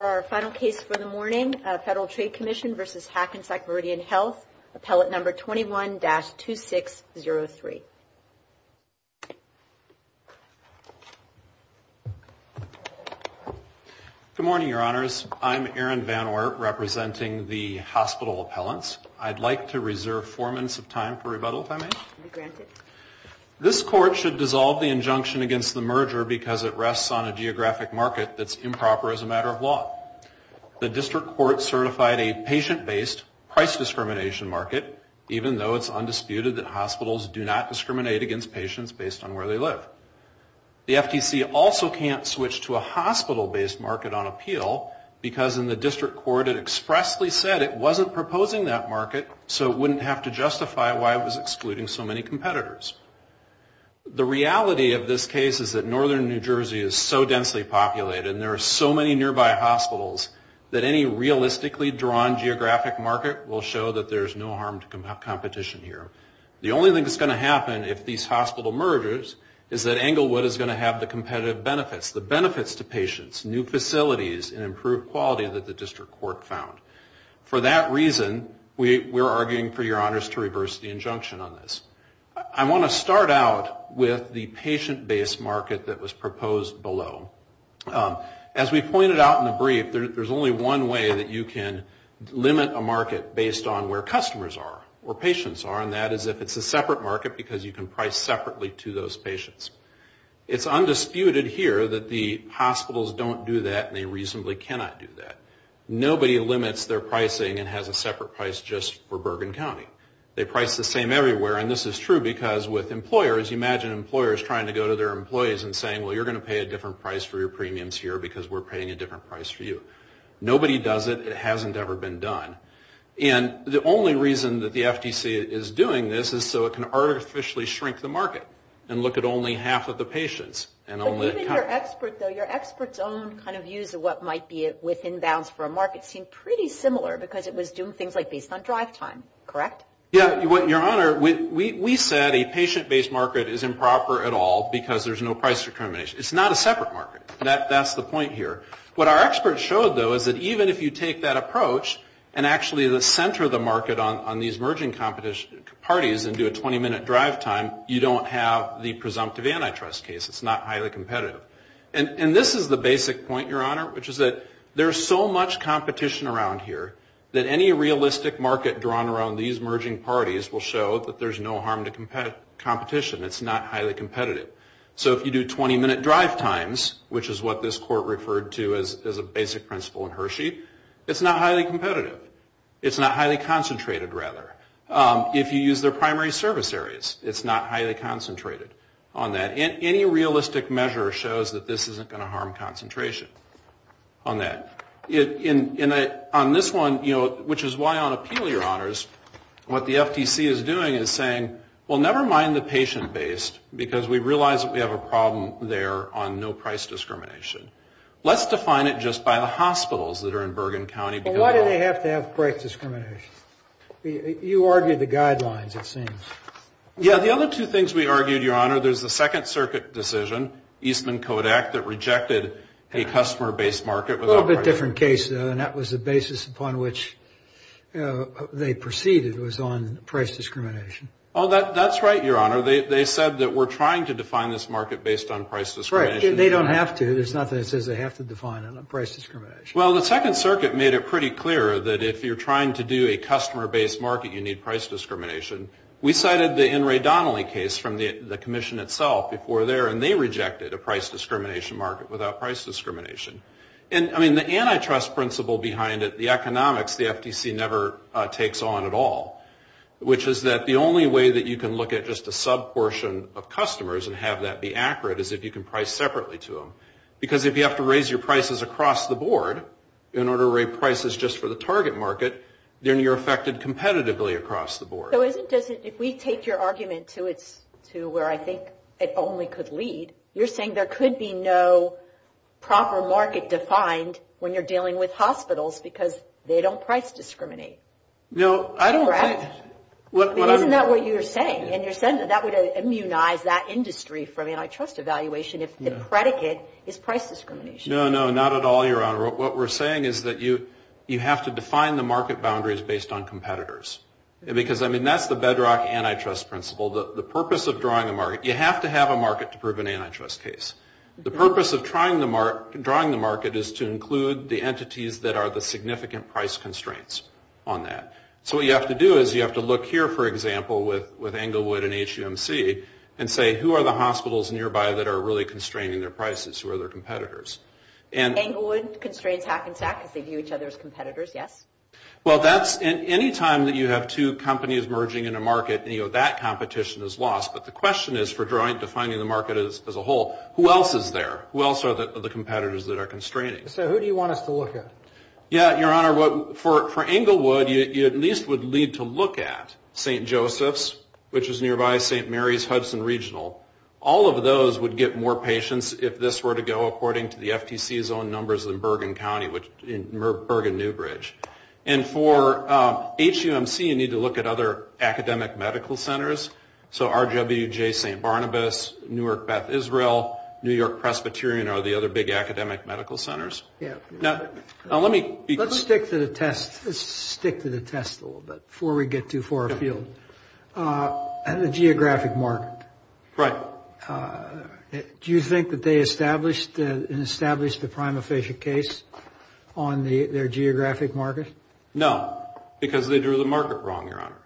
Our final case for the morning, Federal Trade Commission v. Hackensack Meridian Health, Appellate Number 21-2603. Good morning, Your Honors. I'm Aaron Van Oort, representing the hospital appellants. I'd like to reserve four minutes of time for rebuttal, if I may. You're granted. This Court should dissolve the injunction against the merger because it rests on a geographic market that's improper as a matter of law. The District Court certified a patient-based price discrimination market, even though it's undisputed that hospitals do not discriminate against patients based on where they live. The FTC also can't switch to a hospital-based market on appeal because in the District Court it expressly said it wasn't proposing that market, so it wouldn't have to justify why it was excluding so many competitors. The reality of this case is that northern New Jersey is so densely populated and there are so many nearby hospitals that any realistically drawn geographic market will show that there's no harm to competition here. The only thing that's going to happen if these hospital mergers is that Englewood is going to have the competitive benefits, the benefits to patients, new facilities, and improved quality that the District Court found. For that reason, we're arguing for your honors to reverse the injunction on this. I want to start out with the patient-based market that was proposed below. As we pointed out in the brief, there's only one way that you can limit a market based on where customers are or patients are, and that is if it's a separate market because you can price separately to those patients. It's undisputed here that the hospitals don't do that and they reasonably cannot do that. Nobody limits their pricing and has a separate price just for Bergen County. They price the same everywhere, and this is true because with employers, you imagine employers trying to go to their employees and saying, well, you're going to pay a different price for your premiums here because we're paying a different price for you. Nobody does it. It hasn't ever been done. And the only reason that the FTC is doing this is so it can artificially shrink the market and look at only half of the patients. But even your expert, though, your expert's own kind of views of what might be within bounds for a market seem pretty similar because it was doing things like based on drive time, correct? Yeah. Your honor, we said a patient-based market is improper at all because there's no price discrimination. It's not a separate market. That's the point here. What our experts showed, though, is that even if you take that approach and actually center the market on these merging parties and do a 20-minute drive time, you don't have the presumptive antitrust case. It's not highly competitive. And this is the basic point, your honor, which is that there's so much competition around here that any realistic market drawn around these merging parties will show that there's no harm to competition. It's not highly competitive. So if you do 20-minute drive times, which is what this court referred to as a basic principle in Hershey, it's not highly competitive. It's not highly concentrated, rather. If you use their primary service areas, it's not highly concentrated on that. Any realistic measure shows that this isn't going to harm concentration on that. On this one, which is why on appeal, your honors, what the FTC is doing is saying, well, never mind the patient-based because we realize that we have a problem there on no price discrimination. Let's define it just by the hospitals that are in Bergen County. Well, why do they have to have price discrimination? You argued the guidelines, it seems. Yeah, the other two things we argued, your honor, there's the Second Circuit decision, Eastman-Kodak, that rejected a customer-based market. A little bit different case, though, and that was the basis upon which they proceeded was on price discrimination. Oh, that's right, your honor. They said that we're trying to define this market based on price discrimination. They don't have to. There's nothing that says they have to define it on price discrimination. Well, the Second Circuit made it pretty clear that if you're trying to do a customer-based market, you need price discrimination. We cited the In re Donnelly case from the commission itself before there, and they rejected a price discrimination market without price discrimination. And, I mean, the antitrust principle behind it, the economics, the FTC never takes on at all, which is that the only way that you can look at just a sub-portion of customers and have that be accurate is if you can price separately to them. Because if you have to raise your prices across the board in order to raise prices just for the target market, then you're affected competitively across the board. So if we take your argument to where I think it only could lead, you're saying there could be no proper market defined when you're dealing with hospitals because they don't price discriminate. No, I don't think. Isn't that what you're saying? And you're saying that that would immunize that industry from antitrust evaluation if the predicate is price discrimination. No, no, not at all, Your Honor. What we're saying is that you have to define the market boundaries based on competitors. Because, I mean, that's the bedrock antitrust principle. The purpose of drawing a market, you have to have a market to prove an antitrust case. The purpose of drawing the market is to include the entities that are the significant price constraints on that. So what you have to do is you have to look here, for example, with Englewood and HUMC, and say, who are the hospitals nearby that are really constraining their prices? Who are their competitors? Englewood constrains HAC and SAC because they view each other as competitors, yes? Well, anytime that you have two companies merging in a market, that competition is lost. But the question is, for defining the market as a whole, who else is there? Who else are the competitors that are constraining? So who do you want us to look at? Yeah, Your Honor, for Englewood, you at least would need to look at St. Joseph's, which is nearby, St. Mary's, Hudson Regional. All of those would get more patients if this were to go according to the FTC's own numbers in Bergen County, Bergen-Newbridge. And for HUMC, you need to look at other academic medical centers. So RWJ St. Barnabas, Newark Beth Israel, New York Presbyterian are the other big academic medical centers. Now let me... Let's stick to the test a little bit before we get too far afield. The geographic market. Right. Do you think that they established the prima facie case on their geographic market? No, because they drew the market wrong, Your Honor.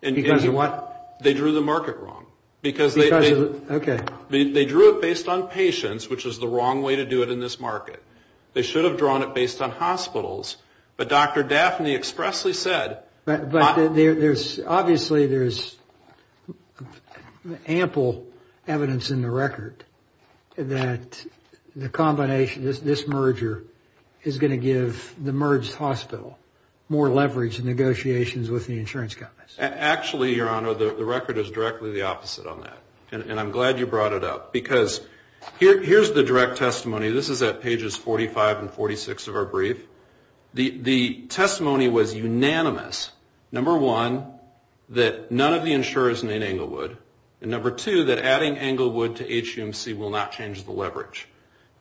Because of what? They drew the market wrong, because they... Because of, okay. They drew it based on patients, which is the wrong way to do it in this market. They should have drawn it based on hospitals, but Dr. Daphne expressly said... But there's obviously there's ample evidence in the record that the combination, this merger is going to give the merged hospital more leverage in negotiations with the insurance companies. Actually, Your Honor, the record is directly the opposite on that. And I'm glad you brought it up, because here's the direct testimony. This is at pages 45 and 46 of our brief. The testimony was unanimous, number one, that none of the insurers named Englewood, and number two, that adding Englewood to HUMC will not change the leverage.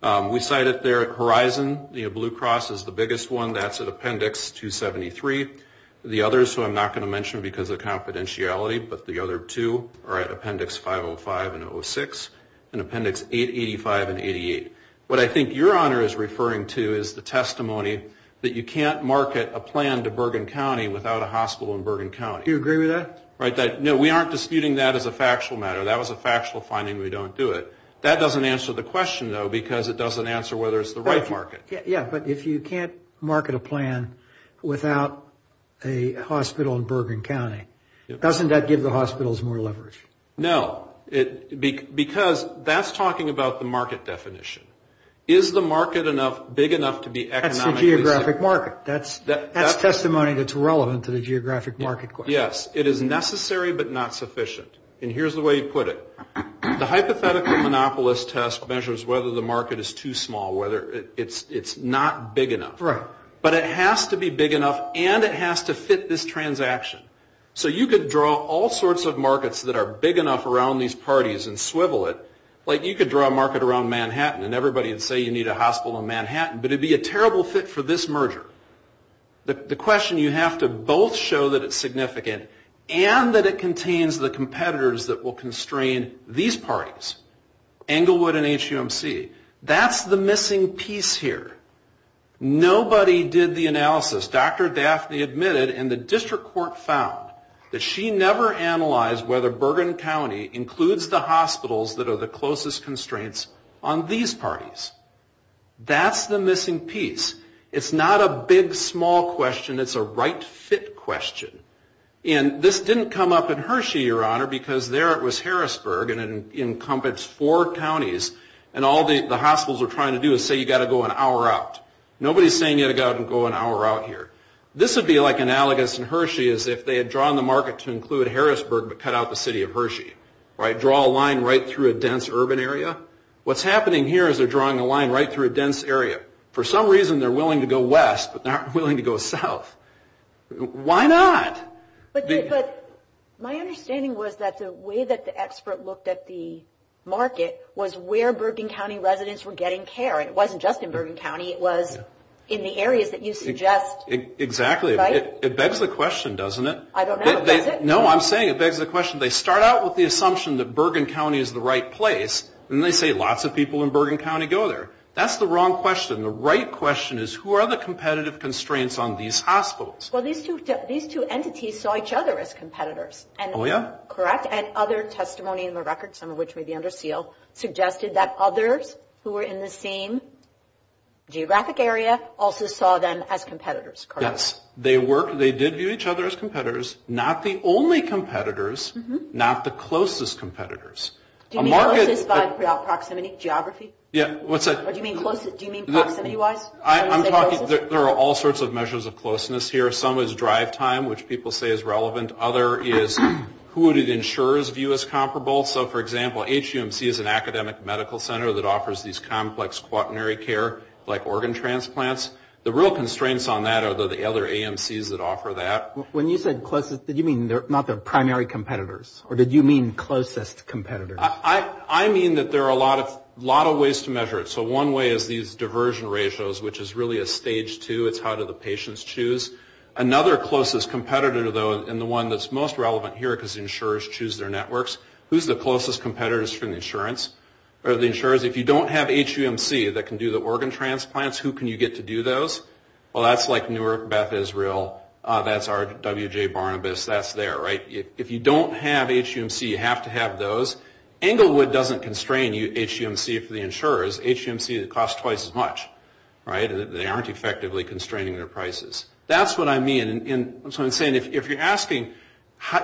We cite it there at Horizon. Blue Cross is the biggest one. That's at Appendix 273. The others, who I'm not going to mention because of confidentiality, but the other two are at Appendix 505 and 06 and Appendix 885 and 88. What I think Your Honor is referring to is the testimony that you can't market a plan to Bergen County without a hospital in Bergen County. Do you agree with that? No, we aren't disputing that as a factual matter. That was a factual finding. We don't do it. That doesn't answer the question, though, because it doesn't answer whether it's the right market. Yeah, but if you can't market a plan without a hospital in Bergen County, doesn't that give the hospitals more leverage? No, because that's talking about the market definition. Is the market big enough to be economically safe? That's the geographic market. That's testimony that's relevant to the geographic market question. Yes, it is necessary but not sufficient, and here's the way you put it. The hypothetical monopolist test measures whether the market is too small, whether it's not big enough. But it has to be big enough, and it has to fit this transaction. So you could draw all sorts of markets that are big enough around these parties and swivel it like you could draw a market around Manhattan and everybody would say you need a hospital in Manhattan, but it would be a terrible fit for this merger. The question you have to both show that it's significant and that it contains the competitors that will constrain these parties, Englewood and HUMC. That's the missing piece here. Nobody did the analysis. Dr. Daphne admitted, and the district court found, that she never analyzed whether Bergen County includes the hospitals that are the closest constraints on these parties. That's the missing piece. It's not a big, small question. It's a right fit question. And this didn't come up in Hershey, Your Honor, because there it was Harrisburg, and it encompassed four counties, and all the hospitals are trying to do is say you've got to go an hour out. Nobody's saying you've got to go an hour out here. This would be like analogous in Hershey as if they had drawn the market to include Harrisburg but cut out the city of Hershey, right? Draw a line right through a dense urban area. What's happening here is they're drawing a line right through a dense area. For some reason they're willing to go west but not willing to go south. Why not? But my understanding was that the way that the expert looked at the market was where Bergen County residents were getting care, and it wasn't just in Bergen County. It was in the areas that you suggest. Exactly. It begs the question, doesn't it? I don't know. No, I'm saying it begs the question. They start out with the assumption that Bergen County is the right place, and they say lots of people in Bergen County go there. That's the wrong question. The right question is who are the competitive constraints on these hospitals? Well, these two entities saw each other as competitors. Oh, yeah? Correct? And other testimony in the record, some of which may be under seal, suggested that others who were in the same geographic area also saw them as competitors. Yes. They did view each other as competitors. Not the only competitors, not the closest competitors. Do you mean closest by proximity, geography? Yeah. Do you mean proximity-wise? I'm talking there are all sorts of measures of closeness here. Some is drive time, which people say is relevant. Other is who did insurers view as comparable. So, for example, HUMC is an academic medical center that offers these complex quaternary care, like organ transplants. The real constraints on that are the other AMCs that offer that. When you said closest, did you mean not the primary competitors, or did you mean closest competitors? I mean that there are a lot of ways to measure it. So one way is these diversion ratios, which is really a stage two. It's how do the patients choose. Another closest competitor, though, and the one that's most relevant here because insurers choose their networks, who's the closest competitors from the insurers? If you don't have HUMC that can do the organ transplants, who can you get to do those? Well, that's like Newark Beth Israel. That's our W.J. Barnabas. That's there, right? If you don't have HUMC, you have to have those. Englewood doesn't constrain HUMC for the insurers. HUMC costs twice as much, right? They aren't effectively constraining their prices. That's what I mean. If you're asking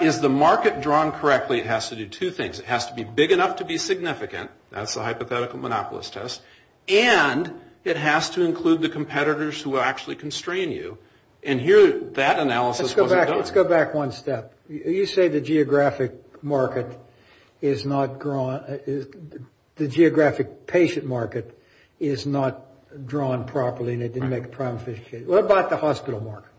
is the market drawn correctly, it has to do two things. It has to be big enough to be significant. That's the hypothetical monopolist test. And it has to include the competitors who will actually constrain you. And here that analysis wasn't done. Let's go back one step. You say the geographic market is not drawn – the geographic patient market is not drawn properly and it didn't make a prime official case. What about the hospital market?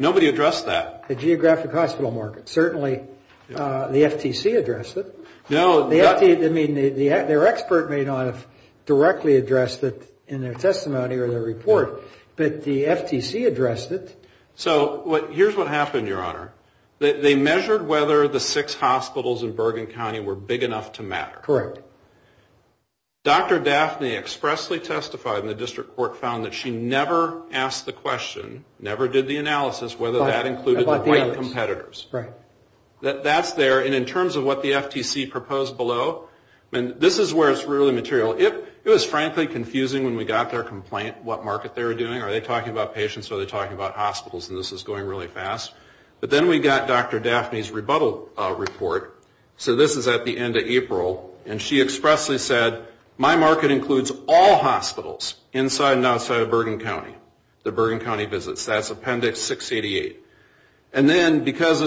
Nobody addressed that. The geographic hospital market. Certainly the FTC addressed it. Their expert may not have directly addressed it in their testimony or their report, but the FTC addressed it. Here's what happened, Your Honor. They measured whether the six hospitals in Bergen County were big enough to matter. Correct. Dr. Daphne expressly testified, and the district court found that she never asked the question, never did the analysis whether that included the white competitors. Right. That's there. And in terms of what the FTC proposed below, this is where it's really material. It was frankly confusing when we got their complaint what market they were doing. Are they talking about patients or are they talking about hospitals? And this is going really fast. But then we got Dr. Daphne's rebuttal report. So this is at the end of April. And she expressly said, my market includes all hospitals inside and outside of Bergen County, the Bergen County visits. That's Appendix 688. And then because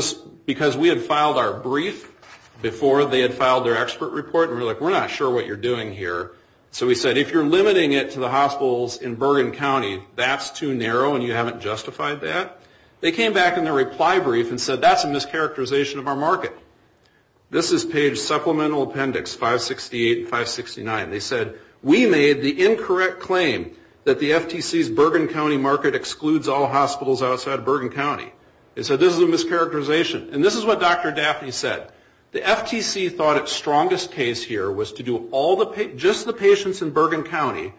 we had filed our brief before they had filed their expert report, we were like, we're not sure what you're doing here. So we said, if you're limiting it to the hospitals in Bergen County, that's too narrow and you haven't justified that. They came back in their reply brief and said, that's a mischaracterization of our market. This is page Supplemental Appendix 568 and 569. They said, we made the incorrect claim that the FTC's Bergen County market excludes all hospitals outside of Bergen County. They said, this is a mischaracterization. And this is what Dr. Daphne said. The FTC thought its strongest case here was to do just the patients in Bergen County,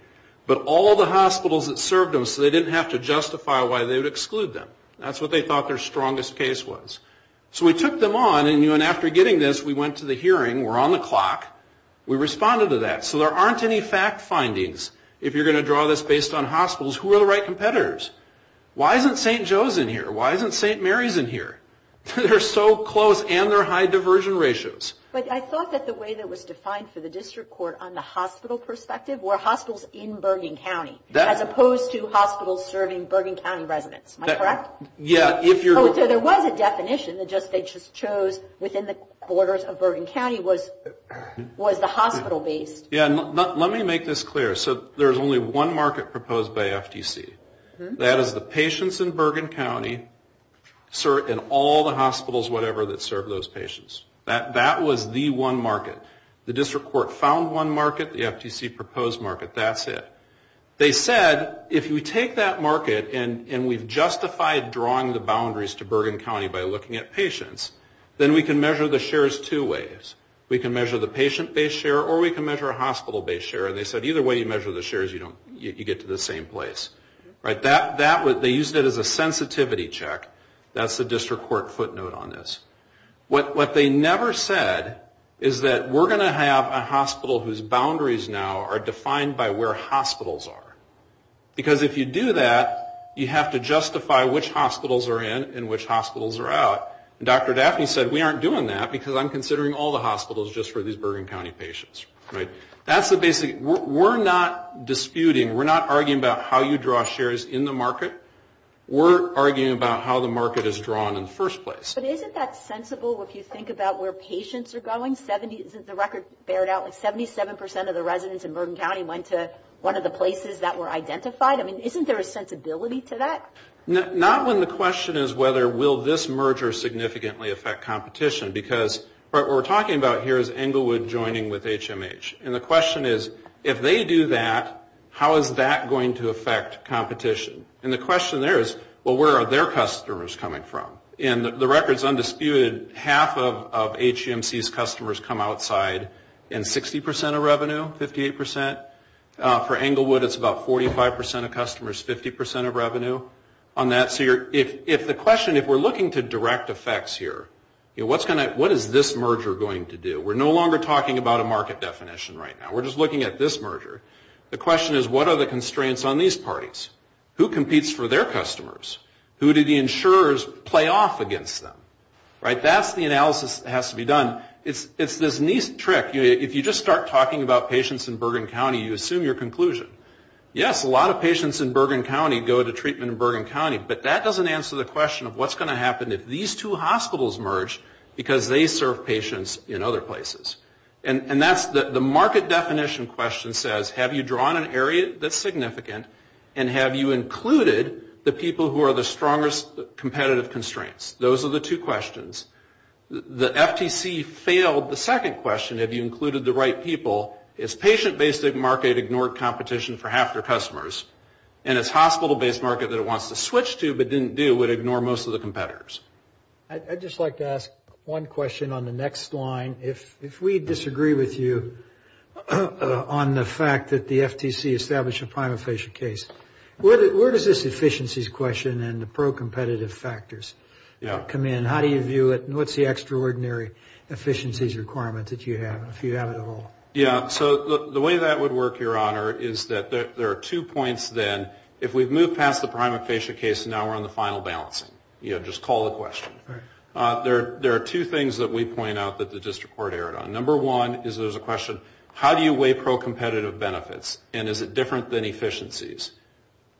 but all the hospitals that served them, so they didn't have to justify why they would exclude them. That's what they thought their strongest case was. So we took them on and after getting this, we went to the hearing. We're on the clock. We responded to that. So there aren't any fact findings. If you're going to draw this based on hospitals, who are the right competitors? Why isn't St. Joe's in here? Why isn't St. Mary's in here? They're so close and they're high diversion ratios. But I thought that the way that was defined for the district court on the hospital perspective were hospitals in Bergen County, as opposed to hospitals serving Bergen County residents. Am I correct? Yeah. So there was a definition that they just chose within the borders of Bergen County was the hospital-based. Yeah. Let me make this clear. So there's only one market proposed by FTC. That is the patients in Bergen County and all the hospitals, whatever, that serve those patients. That was the one market. The district court found one market, the FTC proposed market. That's it. They said if we take that market and we've justified drawing the boundaries to Bergen County by looking at patients, then we can measure the shares two ways. We can measure the patient-based share or we can measure a hospital-based share. And they said either way you measure the shares, you get to the same place. They used it as a sensitivity check. That's the district court footnote on this. What they never said is that we're going to have a hospital whose boundaries now are defined by where hospitals are. Because if you do that, you have to justify which hospitals are in and which hospitals are out. And Dr. Daphne said we aren't doing that because I'm considering all the hospitals just for these Bergen County patients. That's the basic. We're not disputing. We're not arguing about how you draw shares in the market. We're arguing about how the market is drawn in the first place. But isn't that sensible if you think about where patients are going? The record bared out like 77% of the residents in Bergen County went to one of the places that were identified. I mean, isn't there a sensibility to that? Not when the question is whether will this merger significantly affect competition. Because what we're talking about here is Englewood joining with HMH. And the question is, if they do that, how is that going to affect competition? And the question there is, well, where are their customers coming from? And the record is undisputed. Half of HMC's customers come outside in 60% of revenue, 58%. For Englewood, it's about 45% of customers, 50% of revenue on that. So if the question, if we're looking to direct effects here, what is this merger going to do? We're no longer talking about a market definition right now. We're just looking at this merger. The question is, what are the constraints on these parties? Who competes for their customers? Who do the insurers play off against them? Right? That's the analysis that has to be done. It's this neat trick. If you just start talking about patients in Bergen County, you assume your conclusion. Yes, a lot of patients in Bergen County go to treatment in Bergen County. But that doesn't answer the question of what's going to happen if these two hospitals merge because they serve patients in other places. And that's the market definition question says, have you drawn an area that's significant and have you included the people who are the strongest competitive constraints? Those are the two questions. The FTC failed the second question, have you included the right people? Its patient-based market ignored competition for half their customers. And its hospital-based market that it wants to switch to but didn't do would ignore most of the competitors. I'd just like to ask one question on the next line. If we disagree with you on the fact that the FTC established a prima facie case, where does this efficiencies question and the pro-competitive factors come in? How do you view it? And what's the extraordinary efficiencies requirement that you have, if you have it at all? Yeah, so the way that would work, Your Honor, is that there are two points then. If we've moved past the prima facie case and now we're on the final balancing, just call the question. There are two things that we point out that the district court erred on. Number one is there's a question, how do you weigh pro-competitive benefits and is it different than efficiencies?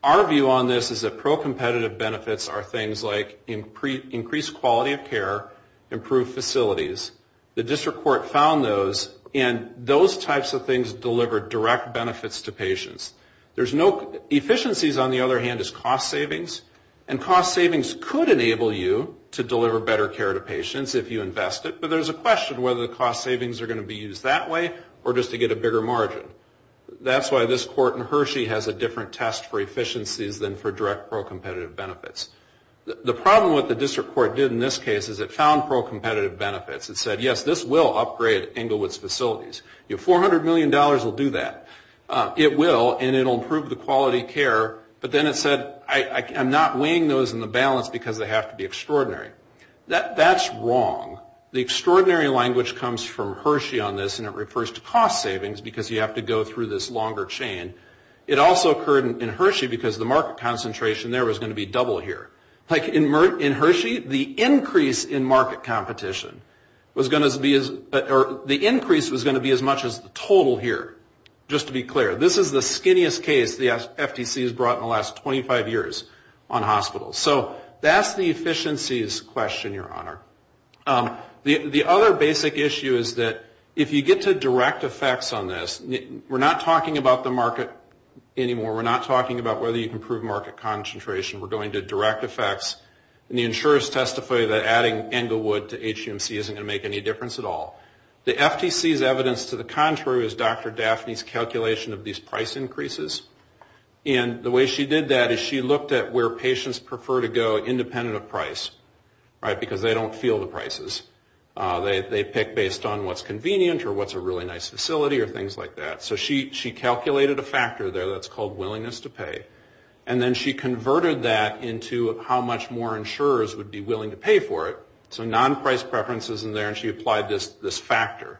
Our view on this is that pro-competitive benefits are things like increased quality of care, improved facilities. The district court found those and those types of things deliver direct benefits to patients. There's no efficiencies, on the other hand, is cost savings. And cost savings could enable you to deliver better care to patients if you invest it, but there's a question whether the cost savings are going to be used that way or just to get a bigger margin. That's why this court in Hershey has a different test for efficiencies than for direct pro-competitive benefits. The problem with what the district court did in this case is it found pro-competitive benefits. It said, yes, this will upgrade Englewood's facilities. Your $400 million will do that. It will, and it will improve the quality of care. But then it said, I'm not weighing those in the balance because they have to be extraordinary. That's wrong. The extraordinary language comes from Hershey on this, and it refers to cost savings because you have to go through this longer chain. It also occurred in Hershey because the market concentration there was going to be double here. Like in Hershey, the increase in market competition was going to be as much as the total here, just to be clear. This is the skinniest case the FTC has brought in the last 25 years on hospitals. So that's the efficiencies question, Your Honor. The other basic issue is that if you get to direct effects on this, we're not talking about the market anymore. We're not talking about whether you can improve market concentration. We're going to direct effects, and the insurers testified that adding Englewood to HGMC isn't going to make any difference at all. The FTC's evidence to the contrary is Dr. Daphne's calculation of these price increases. And the way she did that is she looked at where patients prefer to go independent of price, right, because they don't feel the prices. They pick based on what's convenient or what's a really nice facility or things like that. So she calculated a factor there that's called willingness to pay, and then she converted that into how much more insurers would be willing to pay for it. So non-price preferences in there, and she applied this factor.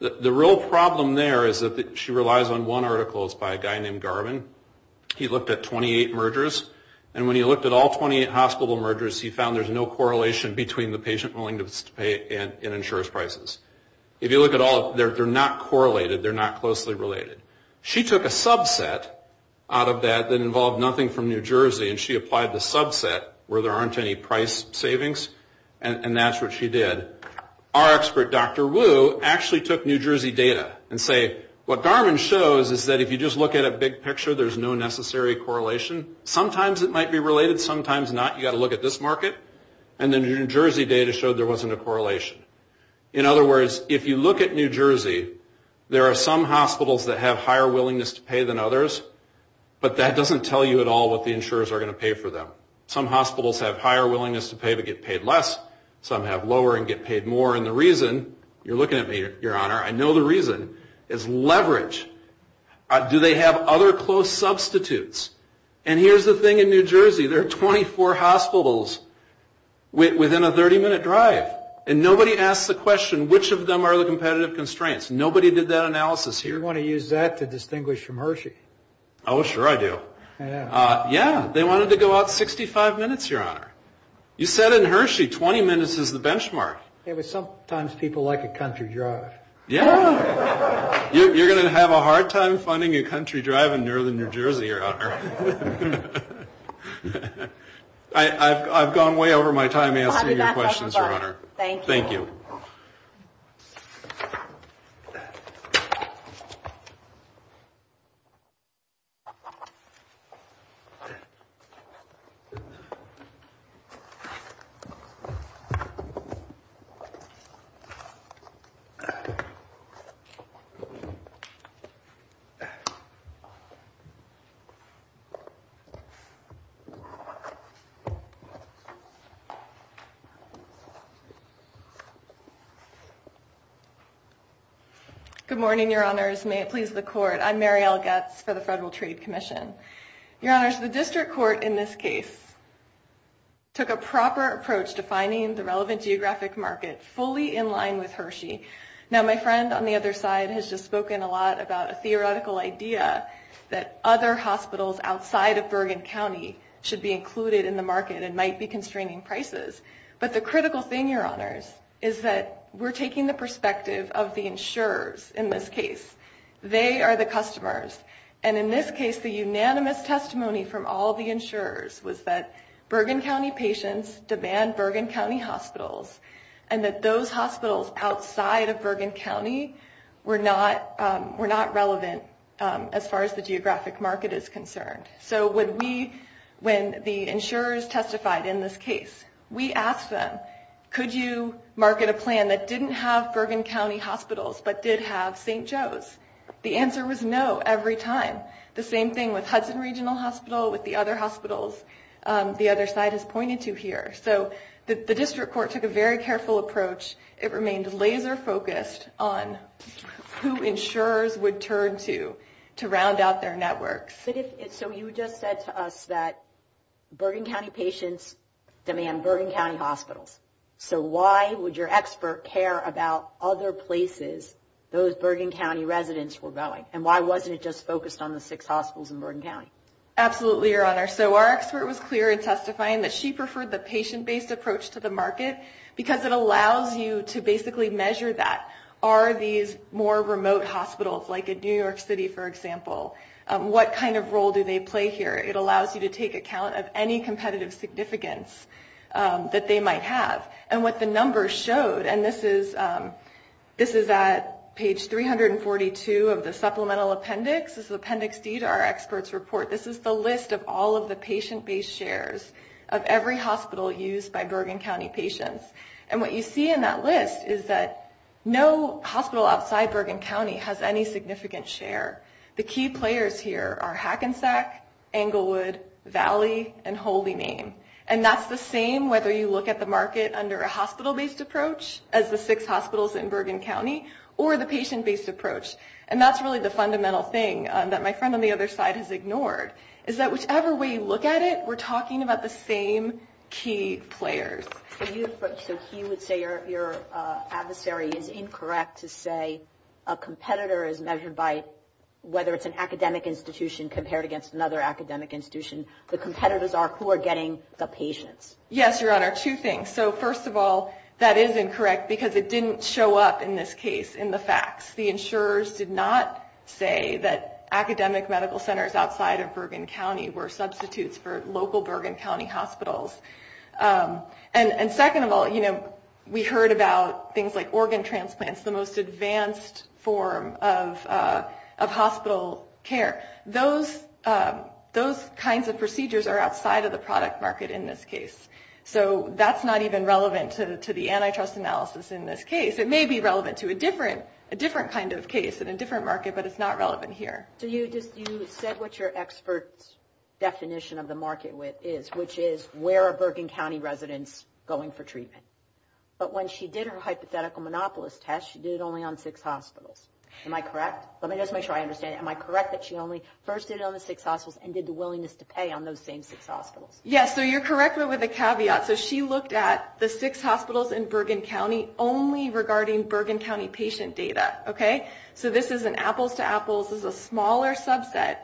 The real problem there is that she relies on one article. It's by a guy named Garvin. He looked at 28 mergers, and when he looked at all 28 hospital mergers, he found there's no correlation between the patient willingness to pay and insurers' prices. If you look at all of them, they're not correlated. They're not closely related. She took a subset out of that that involved nothing from New Jersey, and she applied the subset where there aren't any price savings, and that's what she did. Our expert, Dr. Wu, actually took New Jersey data and say, what Garvin shows is that if you just look at a big picture, there's no necessary correlation. Sometimes it might be related, sometimes not. You've got to look at this market. And the New Jersey data showed there wasn't a correlation. In other words, if you look at New Jersey, there are some hospitals that have higher willingness to pay than others, but that doesn't tell you at all what the insurers are going to pay for them. Some hospitals have higher willingness to pay but get paid less. Some have lower and get paid more. And the reason, you're looking at me, Your Honor, I know the reason, is leverage. Do they have other close substitutes? And here's the thing in New Jersey. There are 24 hospitals within a 30-minute drive, and nobody asks the question which of them are the competitive constraints. Nobody did that analysis here. So you're going to use that to distinguish from Hershey. Oh, sure I do. Yeah. Yeah, they wanted to go out 65 minutes, Your Honor. You said in Hershey, 20 minutes is the benchmark. Yeah, but sometimes people like a country drive. Yeah. You're going to have a hard time finding a country drive in northern New Jersey, Your Honor. I've gone way over my time answering your questions, Your Honor. Thank you. Good morning, Your Honors. May it please the Court. I'm Mary L. Goetz for the Federal Trade Commission. Your Honors, the district court in this case took a proper approach to finding the relevant geographic market fully in line with Hershey. Now, my friend on the other side has just spoken a lot about a theoretical idea that other hospitals outside of Bergen County should be included in the market and might be constraining prices. But the critical thing, Your Honors, is that we're taking the perspective of the insurers in this case. They are the customers. And in this case, the unanimous testimony from all the insurers was that Bergen County patients demand Bergen County hospitals and that those hospitals outside of Bergen County were not relevant as far as the geographic market is concerned. So when the insurers testified in this case, we asked them, could you market a plan that didn't have Bergen County hospitals but did have St. Joe's? The answer was no every time. The same thing with Hudson Regional Hospital, with the other hospitals the other side has pointed to here. So the district court took a very careful approach. It remained laser focused on who insurers would turn to to round out their networks. So you just said to us that Bergen County patients demand Bergen County hospitals. So why would your expert care about other places those Bergen County residents were going? And why wasn't it just focused on the six hospitals in Bergen County? Absolutely, Your Honor. So our expert was clear in testifying that she preferred the patient-based approach to the market because it allows you to basically measure that. Are these more remote hospitals like in New York City, for example? What kind of role do they play here? It allows you to take account of any competitive significance that they might have. And what the numbers showed, and this is at page 342 of the supplemental appendix. This is Appendix D to our experts report. This is the list of all of the patient-based shares of every hospital used by Bergen County patients. And what you see in that list is that no hospital outside Bergen County has any significant share. The key players here are Hackensack, Englewood, Valley, and Holy Name. And that's the same whether you look at the market under a hospital-based approach as the six hospitals in Bergen County or the patient-based approach. And that's really the fundamental thing that my friend on the other side has ignored, is that whichever way you look at it, we're talking about the same key players. So he would say your adversary is incorrect to say a competitor is measured by whether it's an academic institution compared against another academic institution. The competitors are who are getting the patients. Yes, Your Honor, two things. So first of all, that is incorrect because it didn't show up in this case in the facts. The insurers did not say that academic medical centers outside of Bergen County were substitutes for local Bergen County hospitals. And second of all, we heard about things like organ transplants, the most advanced form of hospital care. Those kinds of procedures are outside of the product market in this case. So that's not even relevant to the antitrust analysis in this case. It may be relevant to a different kind of case in a different market, but it's not relevant here. So you said what your expert's definition of the market is, which is where are Bergen County residents going for treatment? But when she did her hypothetical monopolist test, she did it only on six hospitals. Am I correct? Let me just make sure I understand. Am I correct that she only first did it on the six hospitals and did the willingness to pay on those same six hospitals? Yes, so you're correct, but with a caveat. So she looked at the six hospitals in Bergen County only regarding Bergen County patient data. Okay, so this is an apples to apples. This is a smaller subset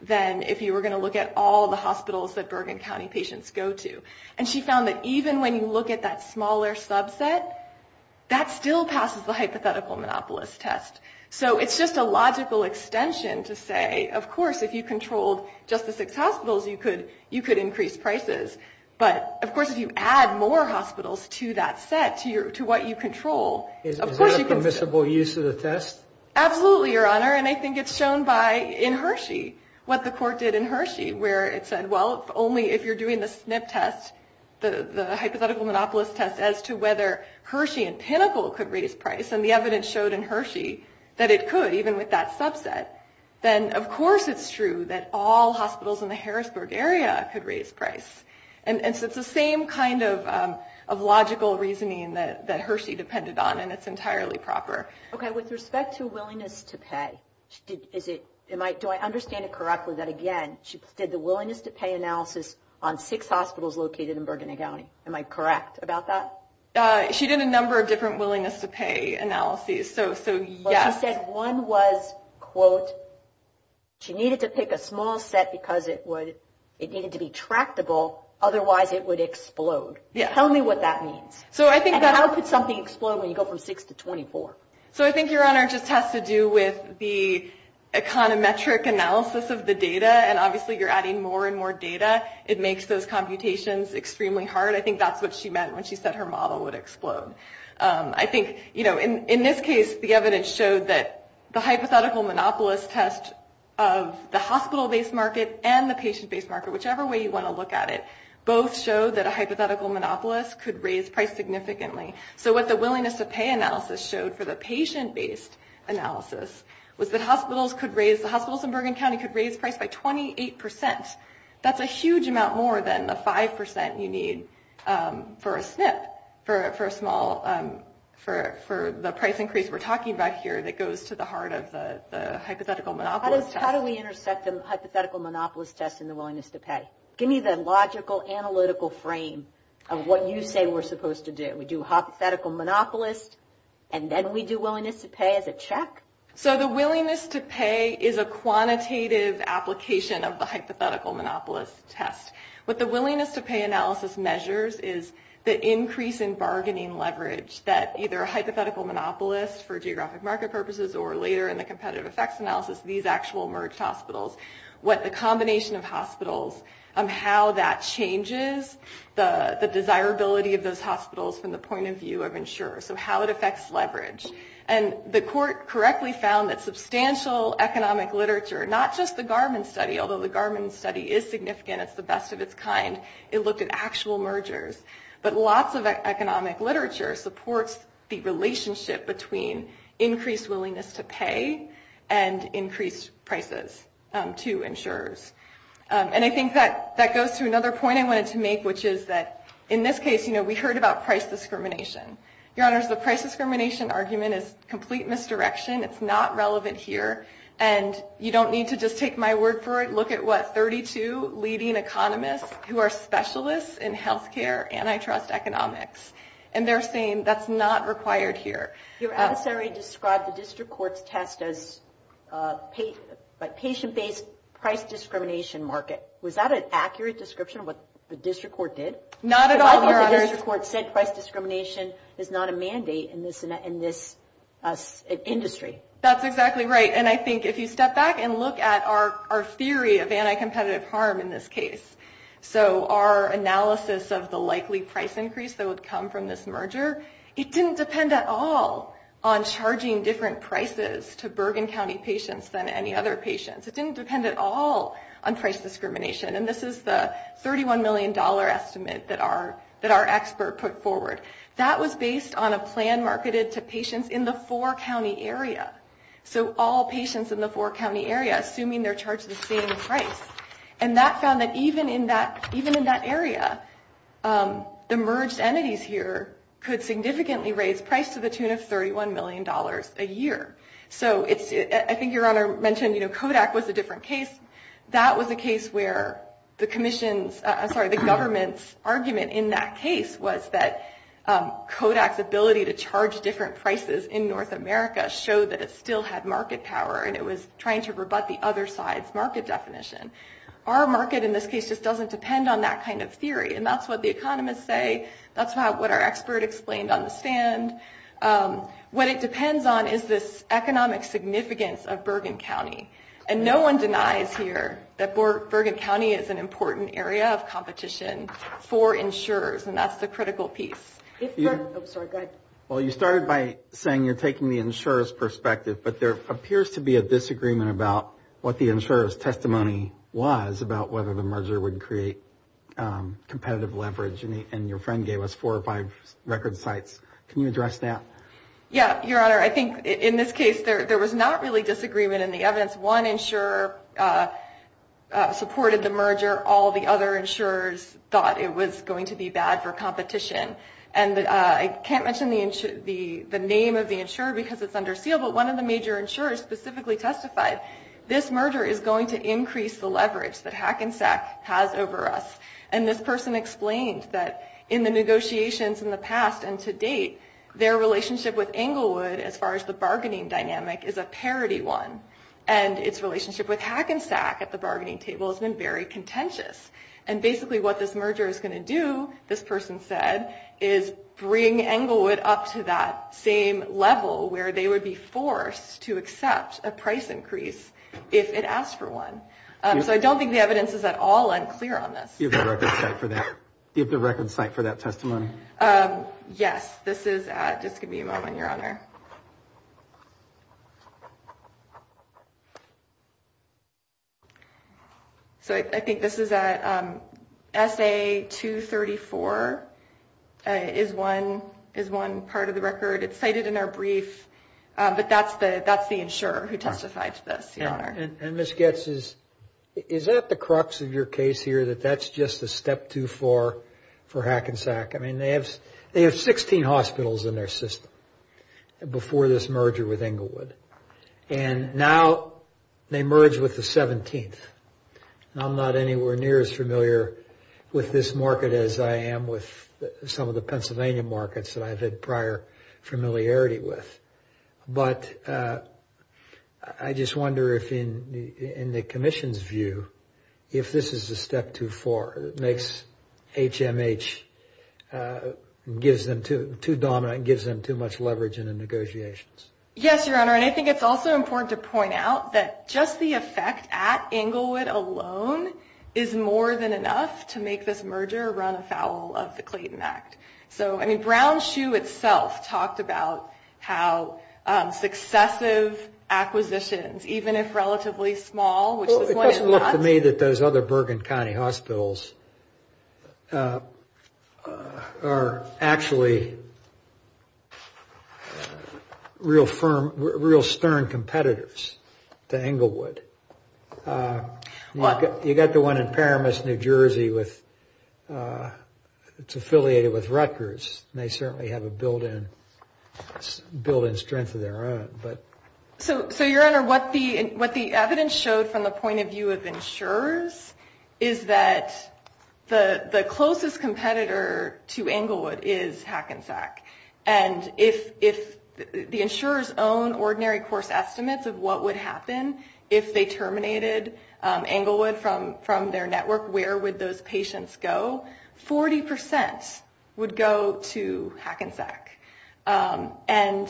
than if you were going to look at all the hospitals that Bergen County patients go to. And she found that even when you look at that smaller subset, that still passes the hypothetical monopolist test. So it's just a logical extension to say, of course, if you controlled just the six hospitals, you could increase prices. But, of course, if you add more hospitals to that set, to what you control, of course you could. Is that a permissible use of the test? Absolutely, Your Honor. And I think it's shown by in Hershey, what the court did in Hershey, where it said, well, only if you're doing the SNP test, the hypothetical monopolist test, as to whether Hershey and Pinnacle could raise price. And the evidence showed in Hershey that it could, even with that subset. Then, of course, it's true that all hospitals in the Harrisburg area could raise price. And so it's the same kind of logical reasoning that Hershey depended on, and it's entirely proper. Okay. With respect to willingness to pay, do I understand it correctly that, again, she did the willingness to pay analysis on six hospitals located in Bergen County? Am I correct about that? She did a number of different willingness to pay analyses, so yes. She said one was, quote, she needed to pick a small set because it needed to be tractable, otherwise it would explode. Tell me what that means. And how could something explode when you go from six to 24? So I think, Your Honor, it just has to do with the econometric analysis of the data, and obviously you're adding more and more data. It makes those computations extremely hard. I think that's what she meant when she said her model would explode. I think, you know, in this case, the evidence showed that the hypothetical monopolist test of the hospital-based market and the patient-based market, whichever way you want to look at it, both showed that a hypothetical monopolist could raise price significantly. So what the willingness to pay analysis showed for the patient-based analysis was that hospitals could raise, the hospitals in Bergen County could raise price by 28%. That's a huge amount more than the 5% you need for a SNP, for a small, for the price increase we're talking about here that goes to the heart of the hypothetical monopolist test. How do we intersect the hypothetical monopolist test and the willingness to pay? Give me the logical, analytical frame of what you say we're supposed to do. We do hypothetical monopolist, and then we do willingness to pay as a check? So the willingness to pay is a quantitative application of the hypothetical monopolist test. What the willingness to pay analysis measures is the increase in bargaining leverage that either a hypothetical monopolist for geographic market purposes or later in the competitive effects analysis, these actual merged hospitals, what the combination of hospitals, how that changes the desirability of those hospitals from the point of view of insurers, so how it affects leverage. And the court correctly found that substantial economic literature, not just the Garman study, although the Garman study is significant, it's the best of its kind, it looked at actual mergers, but lots of economic literature supports the relationship between increased willingness to pay and increased prices to insurers. And I think that goes to another point I wanted to make, which is that in this case, you know, we heard about price discrimination. Your Honors, the price discrimination argument is complete misdirection. It's not relevant here. And you don't need to just take my word for it. Look at what, 32 leading economists who are specialists in health care antitrust economics, and they're saying that's not required here. Your adversary described the district court's test as patient-based price discrimination market. Was that an accurate description of what the district court did? Not at all, Your Honors. The district court said price discrimination is not a mandate in this industry. That's exactly right. And I think if you step back and look at our theory of anti-competitive harm in this case, so our analysis of the likely price increase that would come from this merger, it didn't depend at all on charging different prices to Bergen County patients than any other patients. It didn't depend at all on price discrimination. And this is the $31 million estimate that our expert put forward. That was based on a plan marketed to patients in the four-county area, so all patients in the four-county area assuming they're charged the same price. And that found that even in that area, the merged entities here could significantly raise price to the tune of $31 million a year. So I think Your Honor mentioned, you know, Kodak was a different case. That was a case where the government's argument in that case was that Kodak's ability to charge different prices in North America showed that it still had market power, and it was trying to rebut the other side's market definition. Our market in this case just doesn't depend on that kind of theory. And that's what the economists say. That's what our expert explained on the stand. What it depends on is this economic significance of Bergen County. And no one denies here that Bergen County is an important area of competition for insurers, and that's the critical piece. Well, you started by saying you're taking the insurer's perspective, but there appears to be a disagreement about what the insurer's testimony was about whether the merger would create competitive leverage, and your friend gave us four or five record sites. Can you address that? Yeah, Your Honor. I think in this case there was not really disagreement in the evidence. One insurer supported the merger. All the other insurers thought it was going to be bad for competition. And I can't mention the name of the insurer because it's under seal, but one of the major insurers specifically testified, this merger is going to increase the leverage that Hackensack has over us. And this person explained that in the negotiations in the past and to date, their relationship with Englewood as far as the bargaining dynamic is a parity one, and its relationship with Hackensack at the bargaining table has been very contentious. And basically what this merger is going to do, this person said, is bring Englewood up to that same level where they would be forced to accept a price increase if it asked for one. So I don't think the evidence is at all unclear on this. Do you have the record site for that testimony? Yes, this is at, just give me a moment, Your Honor. So I think this is at SA234 is one part of the record. It's cited in our brief, but that's the insurer who testified to this, Your Honor. And Ms. Goetz, is that the crux of your case here, that that's just a step too far for Hackensack? I mean, they have 16 hospitals in their system before this merger with Englewood. And now they merge with the 17th. And I'm not anywhere near as familiar with this market as I am with some of the Pennsylvania markets that I've had prior familiarity with. But I just wonder if in the commission's view, if this is a step too far. It makes HMH too dominant and gives them too much leverage in the negotiations. Yes, Your Honor. And I think it's also important to point out that just the effect at Englewood alone is more than enough to make this merger run afoul of the Clayton Act. So, I mean, Brown Shoe itself talked about how successive acquisitions, even if relatively small, which this one is not. It seems to me that those other Bergen County hospitals are actually real firm, real stern competitors to Englewood. You've got the one in Paramus, New Jersey. It's affiliated with Rutgers, and they certainly have a built-in strength of their own. So, Your Honor, what the evidence showed from the point of view of insurers is that the closest competitor to Englewood is Hackensack. And if the insurers own ordinary course estimates of what would happen if they terminated Englewood from their network, where would those patients go? 40% would go to Hackensack. And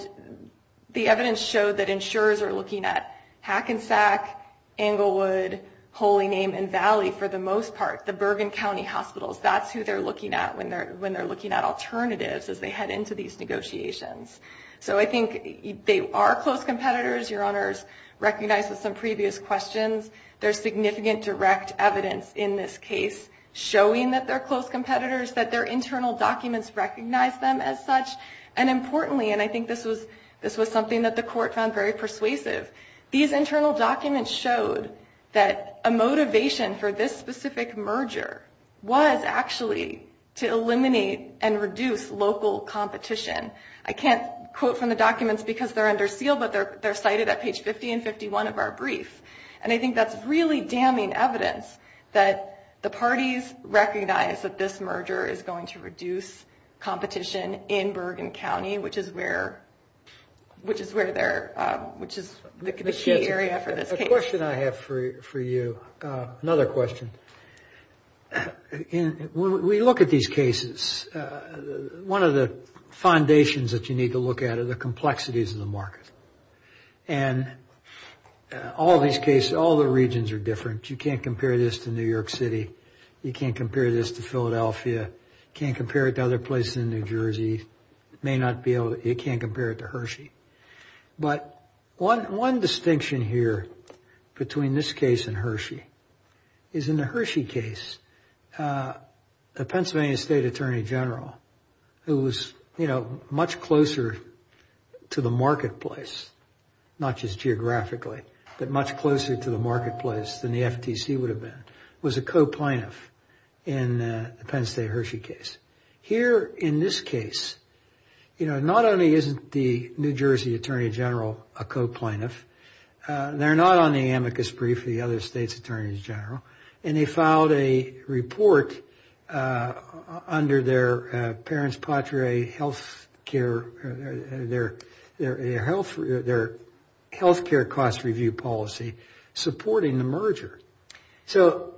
the evidence showed that insurers are looking at Hackensack, Englewood, Holy Name, and Valley for the most part, the Bergen County hospitals. That's who they're looking at when they're looking at alternatives as they head into these negotiations. So, I think they are close competitors. Your Honor's recognized some previous questions. There's significant direct evidence in this case showing that they're close competitors, that their internal documents recognize them as such. And importantly, and I think this was something that the court found very persuasive, these internal documents showed that a motivation for this specific merger was actually to eliminate and reduce local competition. I can't quote from the documents because they're under seal, but they're cited at page 50 and 51 of our brief. And I think that's really damning evidence that the parties recognize that this merger is going to reduce competition in Bergen County, which is where they're, which is the key area for this case. A question I have for you, another question. When we look at these cases, one of the foundations that you need to look at are the complexities of the market. And all these cases, all the regions are different. You can't compare this to New York City. You can't compare this to Philadelphia. You can't compare it to other places in New Jersey. You may not be able to, you can't compare it to Hershey. But one distinction here between this case and Hershey is in the Hershey case, the Pennsylvania State Attorney General, who was, you know, much closer to the marketplace, not just geographically, but much closer to the marketplace than the FTC would have been, was a co-plaintiff in the Penn State Hershey case. Here in this case, you know, not only isn't the New Jersey Attorney General a co-plaintiff, they're not on the amicus brief of the other states' attorneys general, and they filed a report under their parents patria health care, their health care cost review policy supporting the merger. So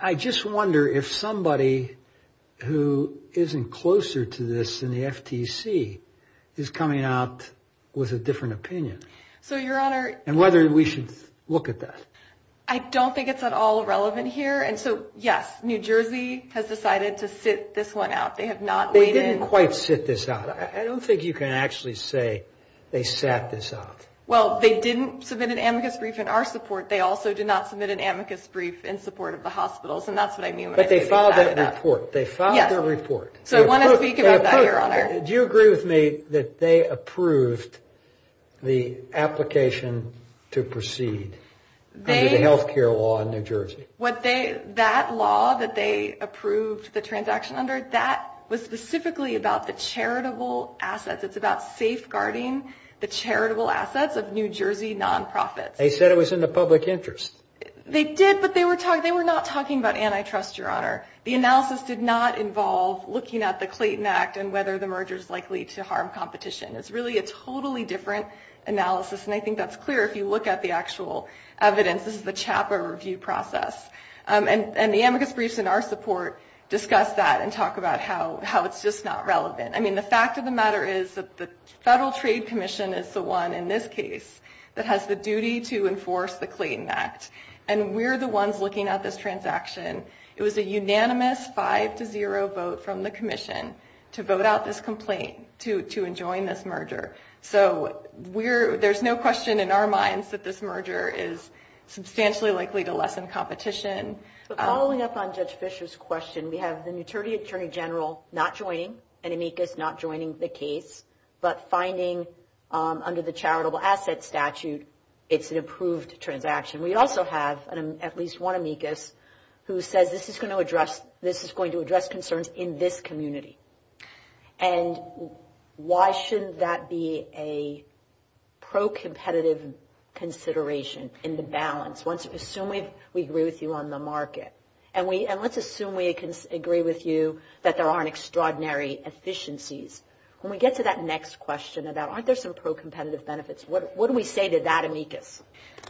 I just wonder if somebody who isn't closer to this than the FTC is coming out with a different opinion. And whether we should look at that. I don't think it's at all relevant here. And so, yes, New Jersey has decided to sit this one out. They have not waited. They didn't quite sit this out. I don't think you can actually say they sat this out. Well, they didn't submit an amicus brief in our support. They also did not submit an amicus brief in support of the hospitals. And that's what I mean. But they filed that report. They filed their report. So I want to speak about that, Your Honor. Do you agree with me that they approved the application to proceed under the health care law in New Jersey? That law that they approved the transaction under, that was specifically about the charitable assets. It's about safeguarding the charitable assets of New Jersey nonprofits. They said it was in the public interest. They did, but they were not talking about antitrust, Your Honor. The analysis did not involve looking at the Clayton Act and whether the merger is likely to harm competition. It's really a totally different analysis. And I think that's clear if you look at the actual evidence. This is the CHAPA review process. And the amicus briefs in our support discuss that and talk about how it's just not relevant. I mean, the fact of the matter is that the Federal Trade Commission is the one in this case that has the duty to enforce the Clayton Act. And we're the ones looking at this transaction. It was a unanimous 5-0 vote from the commission to vote out this complaint, to enjoin this merger. So there's no question in our minds that this merger is substantially likely to lessen competition. But following up on Judge Fischer's question, we have an attorney general not joining, an amicus not joining the case, but finding under the charitable assets statute it's an approved transaction. We also have at least one amicus who says this is going to address concerns in this community. And why shouldn't that be a pro-competitive consideration in the balance? Assume we agree with you on the market. And let's assume we agree with you that there aren't extraordinary efficiencies. When we get to that next question about aren't there some pro-competitive benefits, what do we say to that amicus?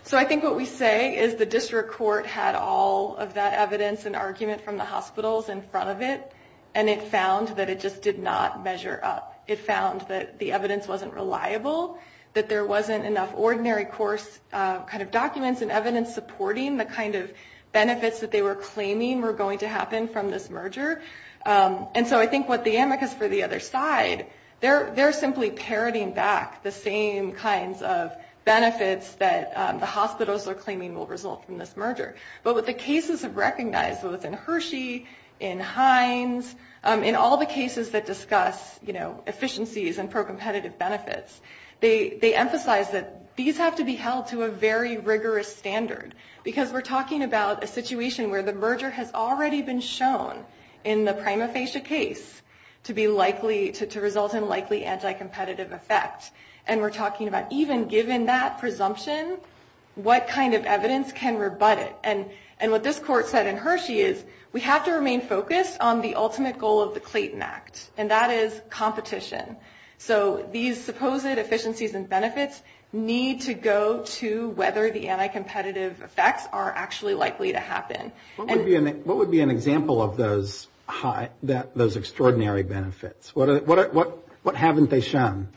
So I think what we say is the district court had all of that evidence and argument from the hospitals in front of it. And it found that it just did not measure up. It found that the evidence wasn't reliable, that there wasn't enough ordinary course kind of documents and evidence supporting the kind of benefits that they were claiming were going to happen from this merger. And so I think what the amicus for the other side, they're simply parroting back the same kinds of benefits that the hospitals are claiming will result from this merger. But what the cases have recognized, both in Hershey, in Hines, in all the cases that discuss efficiencies and pro-competitive benefits, they emphasize that these have to be held to a very rigorous standard. Because we're talking about a situation where the merger has already been shown in the prima facie case to result in likely anti-competitive effect. And we're talking about even given that presumption, what kind of evidence can rebut it? And what this court said in Hershey is we have to remain focused on the ultimate goal of the Clayton Act, and that is competition. So these supposed efficiencies and benefits need to go to whether the anti-competitive effects are actually likely to happen. What would be an example of those extraordinary benefits? What haven't they shown?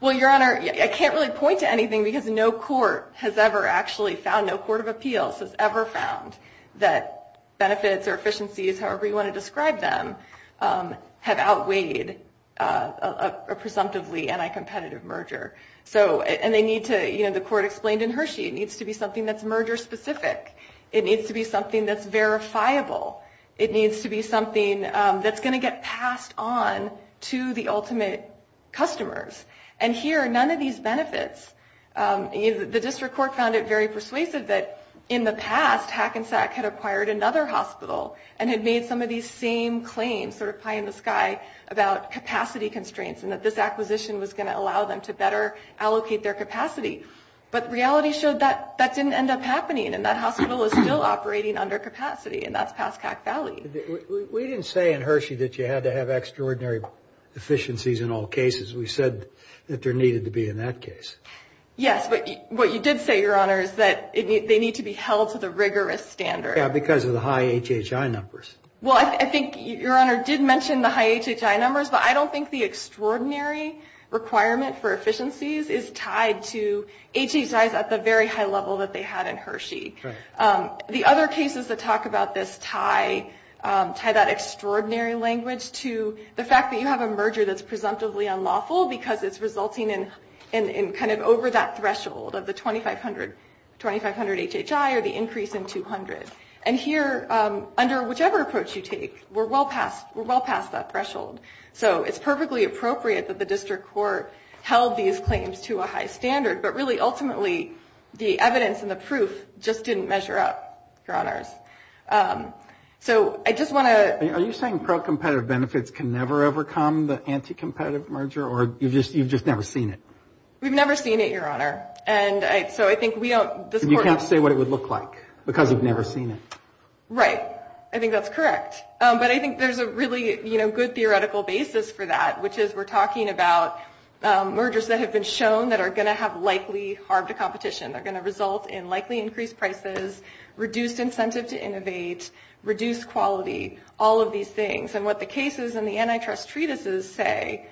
Well, Your Honor, I can't really point to anything because no court has ever actually found, no court of appeals has ever found that benefits or efficiencies, however you want to describe them, have outweighed a presumptively anti-competitive merger. And they need to, the court explained in Hershey, it needs to be something that's merger-specific. It needs to be something that's verifiable. It needs to be something that's going to get passed on to the ultimate customers. And here, none of these benefits, the district court found it very persuasive that in the past, Hackensack had acquired another hospital, and had made some of these same claims, sort of pie in the sky, about capacity constraints, and that this acquisition was going to allow them to better allocate their capacity. But reality showed that that didn't end up happening, and that hospital is still operating under capacity, and that's past Hack Valley. We didn't say in Hershey that you had to have extraordinary efficiencies in all cases. We said that there needed to be in that case. Yes, but what you did say, Your Honor, is that they need to be held to the rigorous standard. Yeah, because of the high HHI numbers. Well, I think Your Honor did mention the high HHI numbers, but I don't think the extraordinary requirement for efficiencies is tied to HHIs at the very high level that they had in Hershey. The other cases that talk about this tie that extraordinary language to the fact that you have a merger that's presumptively unlawful, because it's resulting in kind of over that threshold of the 2,500 HHI or the increase in 200. And here, under whichever approach you take, we're well past that threshold. So it's perfectly appropriate that the district court held these claims to a high standard, but really ultimately the evidence and the proof just didn't measure up, Your Honors. Are you saying pro-competitive benefits can never overcome the anti-competitive merger, or you've just never seen it? We've never seen it, Your Honor. You can't say what it would look like, because you've never seen it. Right. I think that's correct. But I think there's a really good theoretical basis for that, which is we're talking about mergers that have been shown that are going to have likely harbored competition. They're going to innovate, reduce quality, all of these things. And what the cases and the antitrust treatises say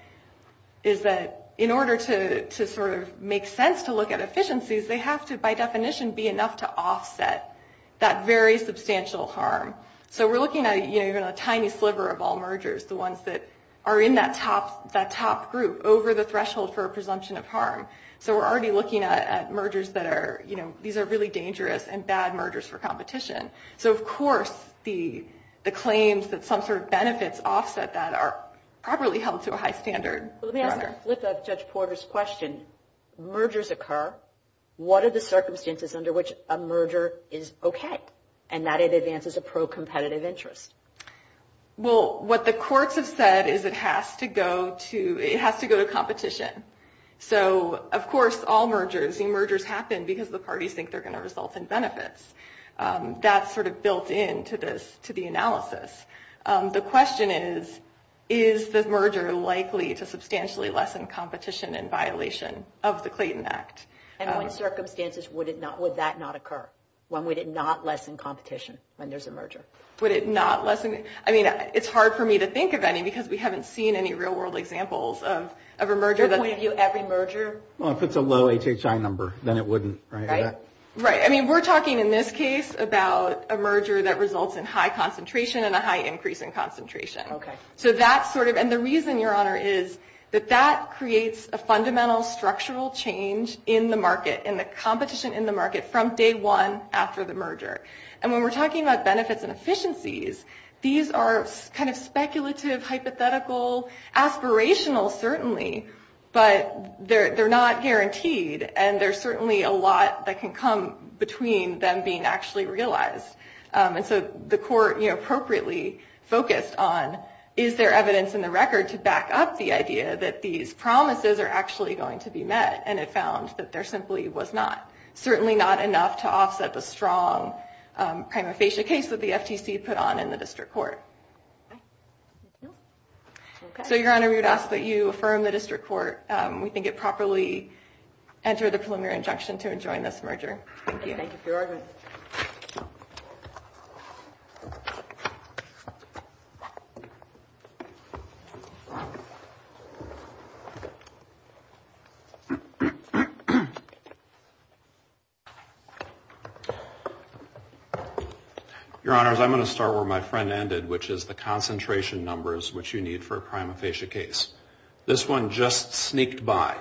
is that in order to sort of make sense to look at efficiencies, they have to, by definition, be enough to offset that very substantial harm. So we're looking at even a tiny sliver of all mergers, the ones that are in that top group over the threshold for a presumption of harm. So we're already looking at mergers that are, you know, these are really dangerous and bad mergers for competition. So, of course, the claims that some sort of benefits offset that are properly held to a high standard. Let me ask a flip of Judge Porter's question. Mergers occur. What are the circumstances under which a merger is OK and that it advances a pro-competitive interest? Well, what the courts have said is it has to go to competition. So, of course, all mergers, the mergers happen because the parties think they're going to result in benefits. That's sort of built into this, to the analysis. The question is, is the merger likely to substantially lessen competition in violation of the Clayton Act? And what circumstances would that not occur? When would it not lessen competition when there's a merger? Would it not lessen? I mean, it's hard for me to think of any because we haven't seen any real world examples of a merger that's Well, if it's a low HHI number, then it wouldn't, right? Right. I mean, we're talking in this case about a merger that results in high concentration and a high increase in concentration. OK, so that's sort of. And the reason, Your Honor, is that that creates a fundamental structural change in the market and the competition in the market from day one after the merger. And when we're talking about benefits and efficiencies, these are kind of speculative, hypothetical, aspirational. Certainly. But they're not guaranteed. And there's certainly a lot that can come between them being actually realized. And so the court appropriately focused on, is there evidence in the record to back up the idea that these promises are actually going to be met? And it found that there simply was not. Certainly not enough to offset the strong prima facie case that the FTC put on in the district court. So, Your Honor, we would ask that you affirm the district court. We think it properly entered the preliminary injunction to enjoin this merger. Thank you. Thank you for your argument. Your Honor, I'm going to start where my friend ended, which is the concentration numbers which you need for a prima facie case. This one just sneaked by.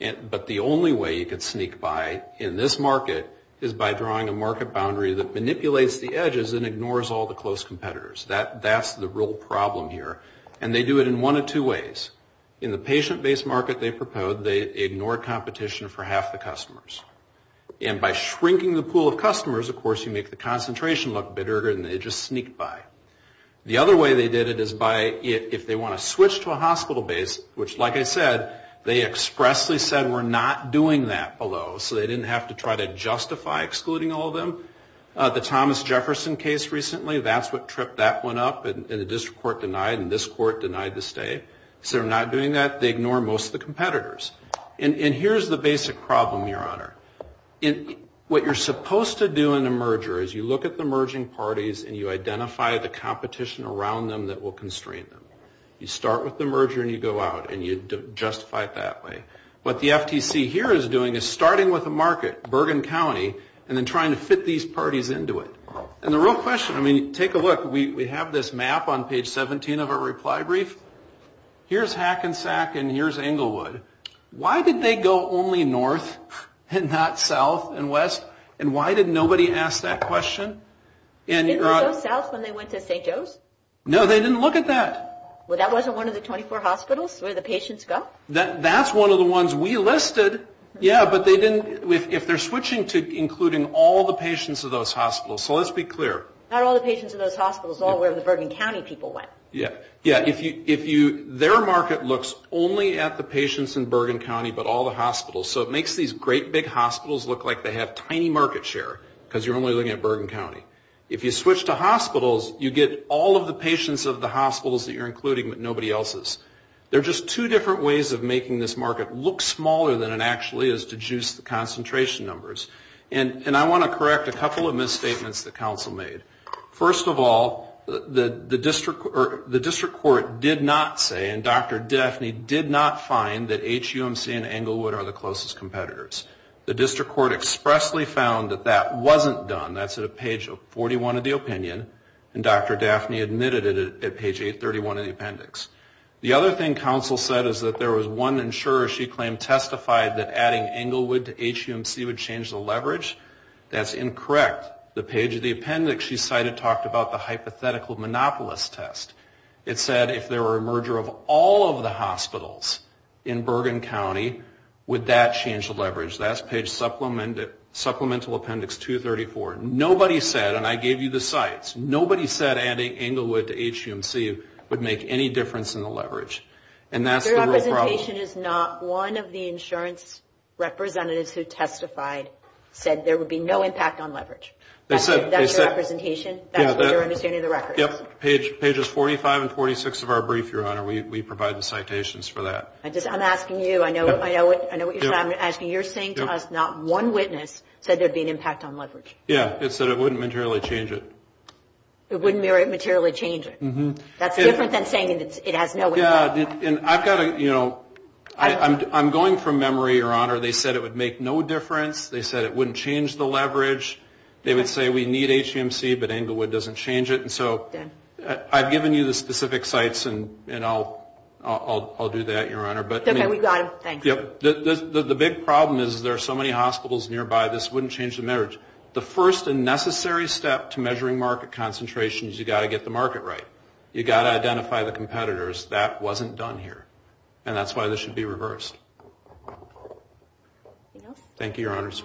But the only way you could sneak by in this market is by drawing a market boundary that manipulates the edges and ignores all the close competitors. That's the real problem here. And they do it in one of two ways. In the patient-based market they proposed, they ignored competition for half the customers. And by shrinking the pool of customers, of course, you make the concentration look bigger and they just sneak by. The other way they did it is by, if they want to switch to a hospital base, which like I said, they expressly said we're not doing that below, so they didn't have to try to justify excluding all of them. The Thomas Jefferson case recently, that's what tripped that one up and the district court denied and this court denied the stay. So they're not doing that. They ignore most of the competitors. And here's the basic problem, Your Honor. What you're supposed to do in a merger is you look at the merging parties and you identify the competition around them that will constrain them. You start with the merger and you go out and you justify it that way. What the FTC here is doing is starting with a market, Bergen County, and then trying to fit these parties into it. And the real question, I mean, take a look. We have this map on page 17 of our reply brief. Here's Hackensack and here's Englewood. Why did they go only north and not south and west? And why did nobody ask that question? Didn't they go south when they went to St. Joe's? No, they didn't look at that. Well, that wasn't one of the 24 hospitals where the patients go? That's one of the ones we listed, yeah, but they didn't, if they're switching to including all the patients of those hospitals. So let's be clear. Not all the patients of those hospitals, all where the Bergen County people went. Yeah, their market looks only at the patients in Bergen County but all the hospitals. So it makes these great big hospitals look like they have tiny market share because you're only looking at Bergen County. If you switch to hospitals, you get all of the patients of the hospitals that you're including but nobody else's. There are just two different ways of making this market look smaller than it actually is to juice the concentration numbers. And I want to correct a couple of misstatements the council made. First of all, the district court did not say and Dr. Daphne did not find that HUMC and Englewood are the closest competitors. The district court expressly found that that wasn't done. That's at page 41 of the opinion and Dr. Daphne admitted it at page 831 of the appendix. The other thing council said is that there was one insurer she claimed testified that adding Englewood to HUMC would change the leverage. That's incorrect. The page of the appendix she cited talked about the hypothetical monopolist test. It said if there were a merger of all of the hospitals in Bergen County, would that change the leverage? That's page supplemental appendix 234. Nobody said, and I gave you the sites, nobody said adding Englewood to HUMC would make any difference in the leverage. The representation is not one of the insurance representatives who testified said there would be no impact on leverage. That's your representation? That's your understanding of the records? Yep. Pages 45 and 46 of our brief, Your Honor. We provided citations for that. I'm asking you. I know what you're saying. You're saying to us not one witness said there would be an impact on leverage. Yeah. It said it wouldn't materially change it. It wouldn't materially change it. That's different than saying it has no impact. I'm going from memory, Your Honor. They said it would make no difference. They said it wouldn't change the leverage. They would say we need HUMC, but Englewood doesn't change it. I've given you the specific sites, and I'll do that, Your Honor. The big problem is there are so many hospitals nearby, this wouldn't change the leverage. The first and necessary step to measuring market concentration is you've got to get the market right. You've got to identify the competitors. That wasn't done here, and that's why this should be reversed. Anything else? Thank you, Your Honors.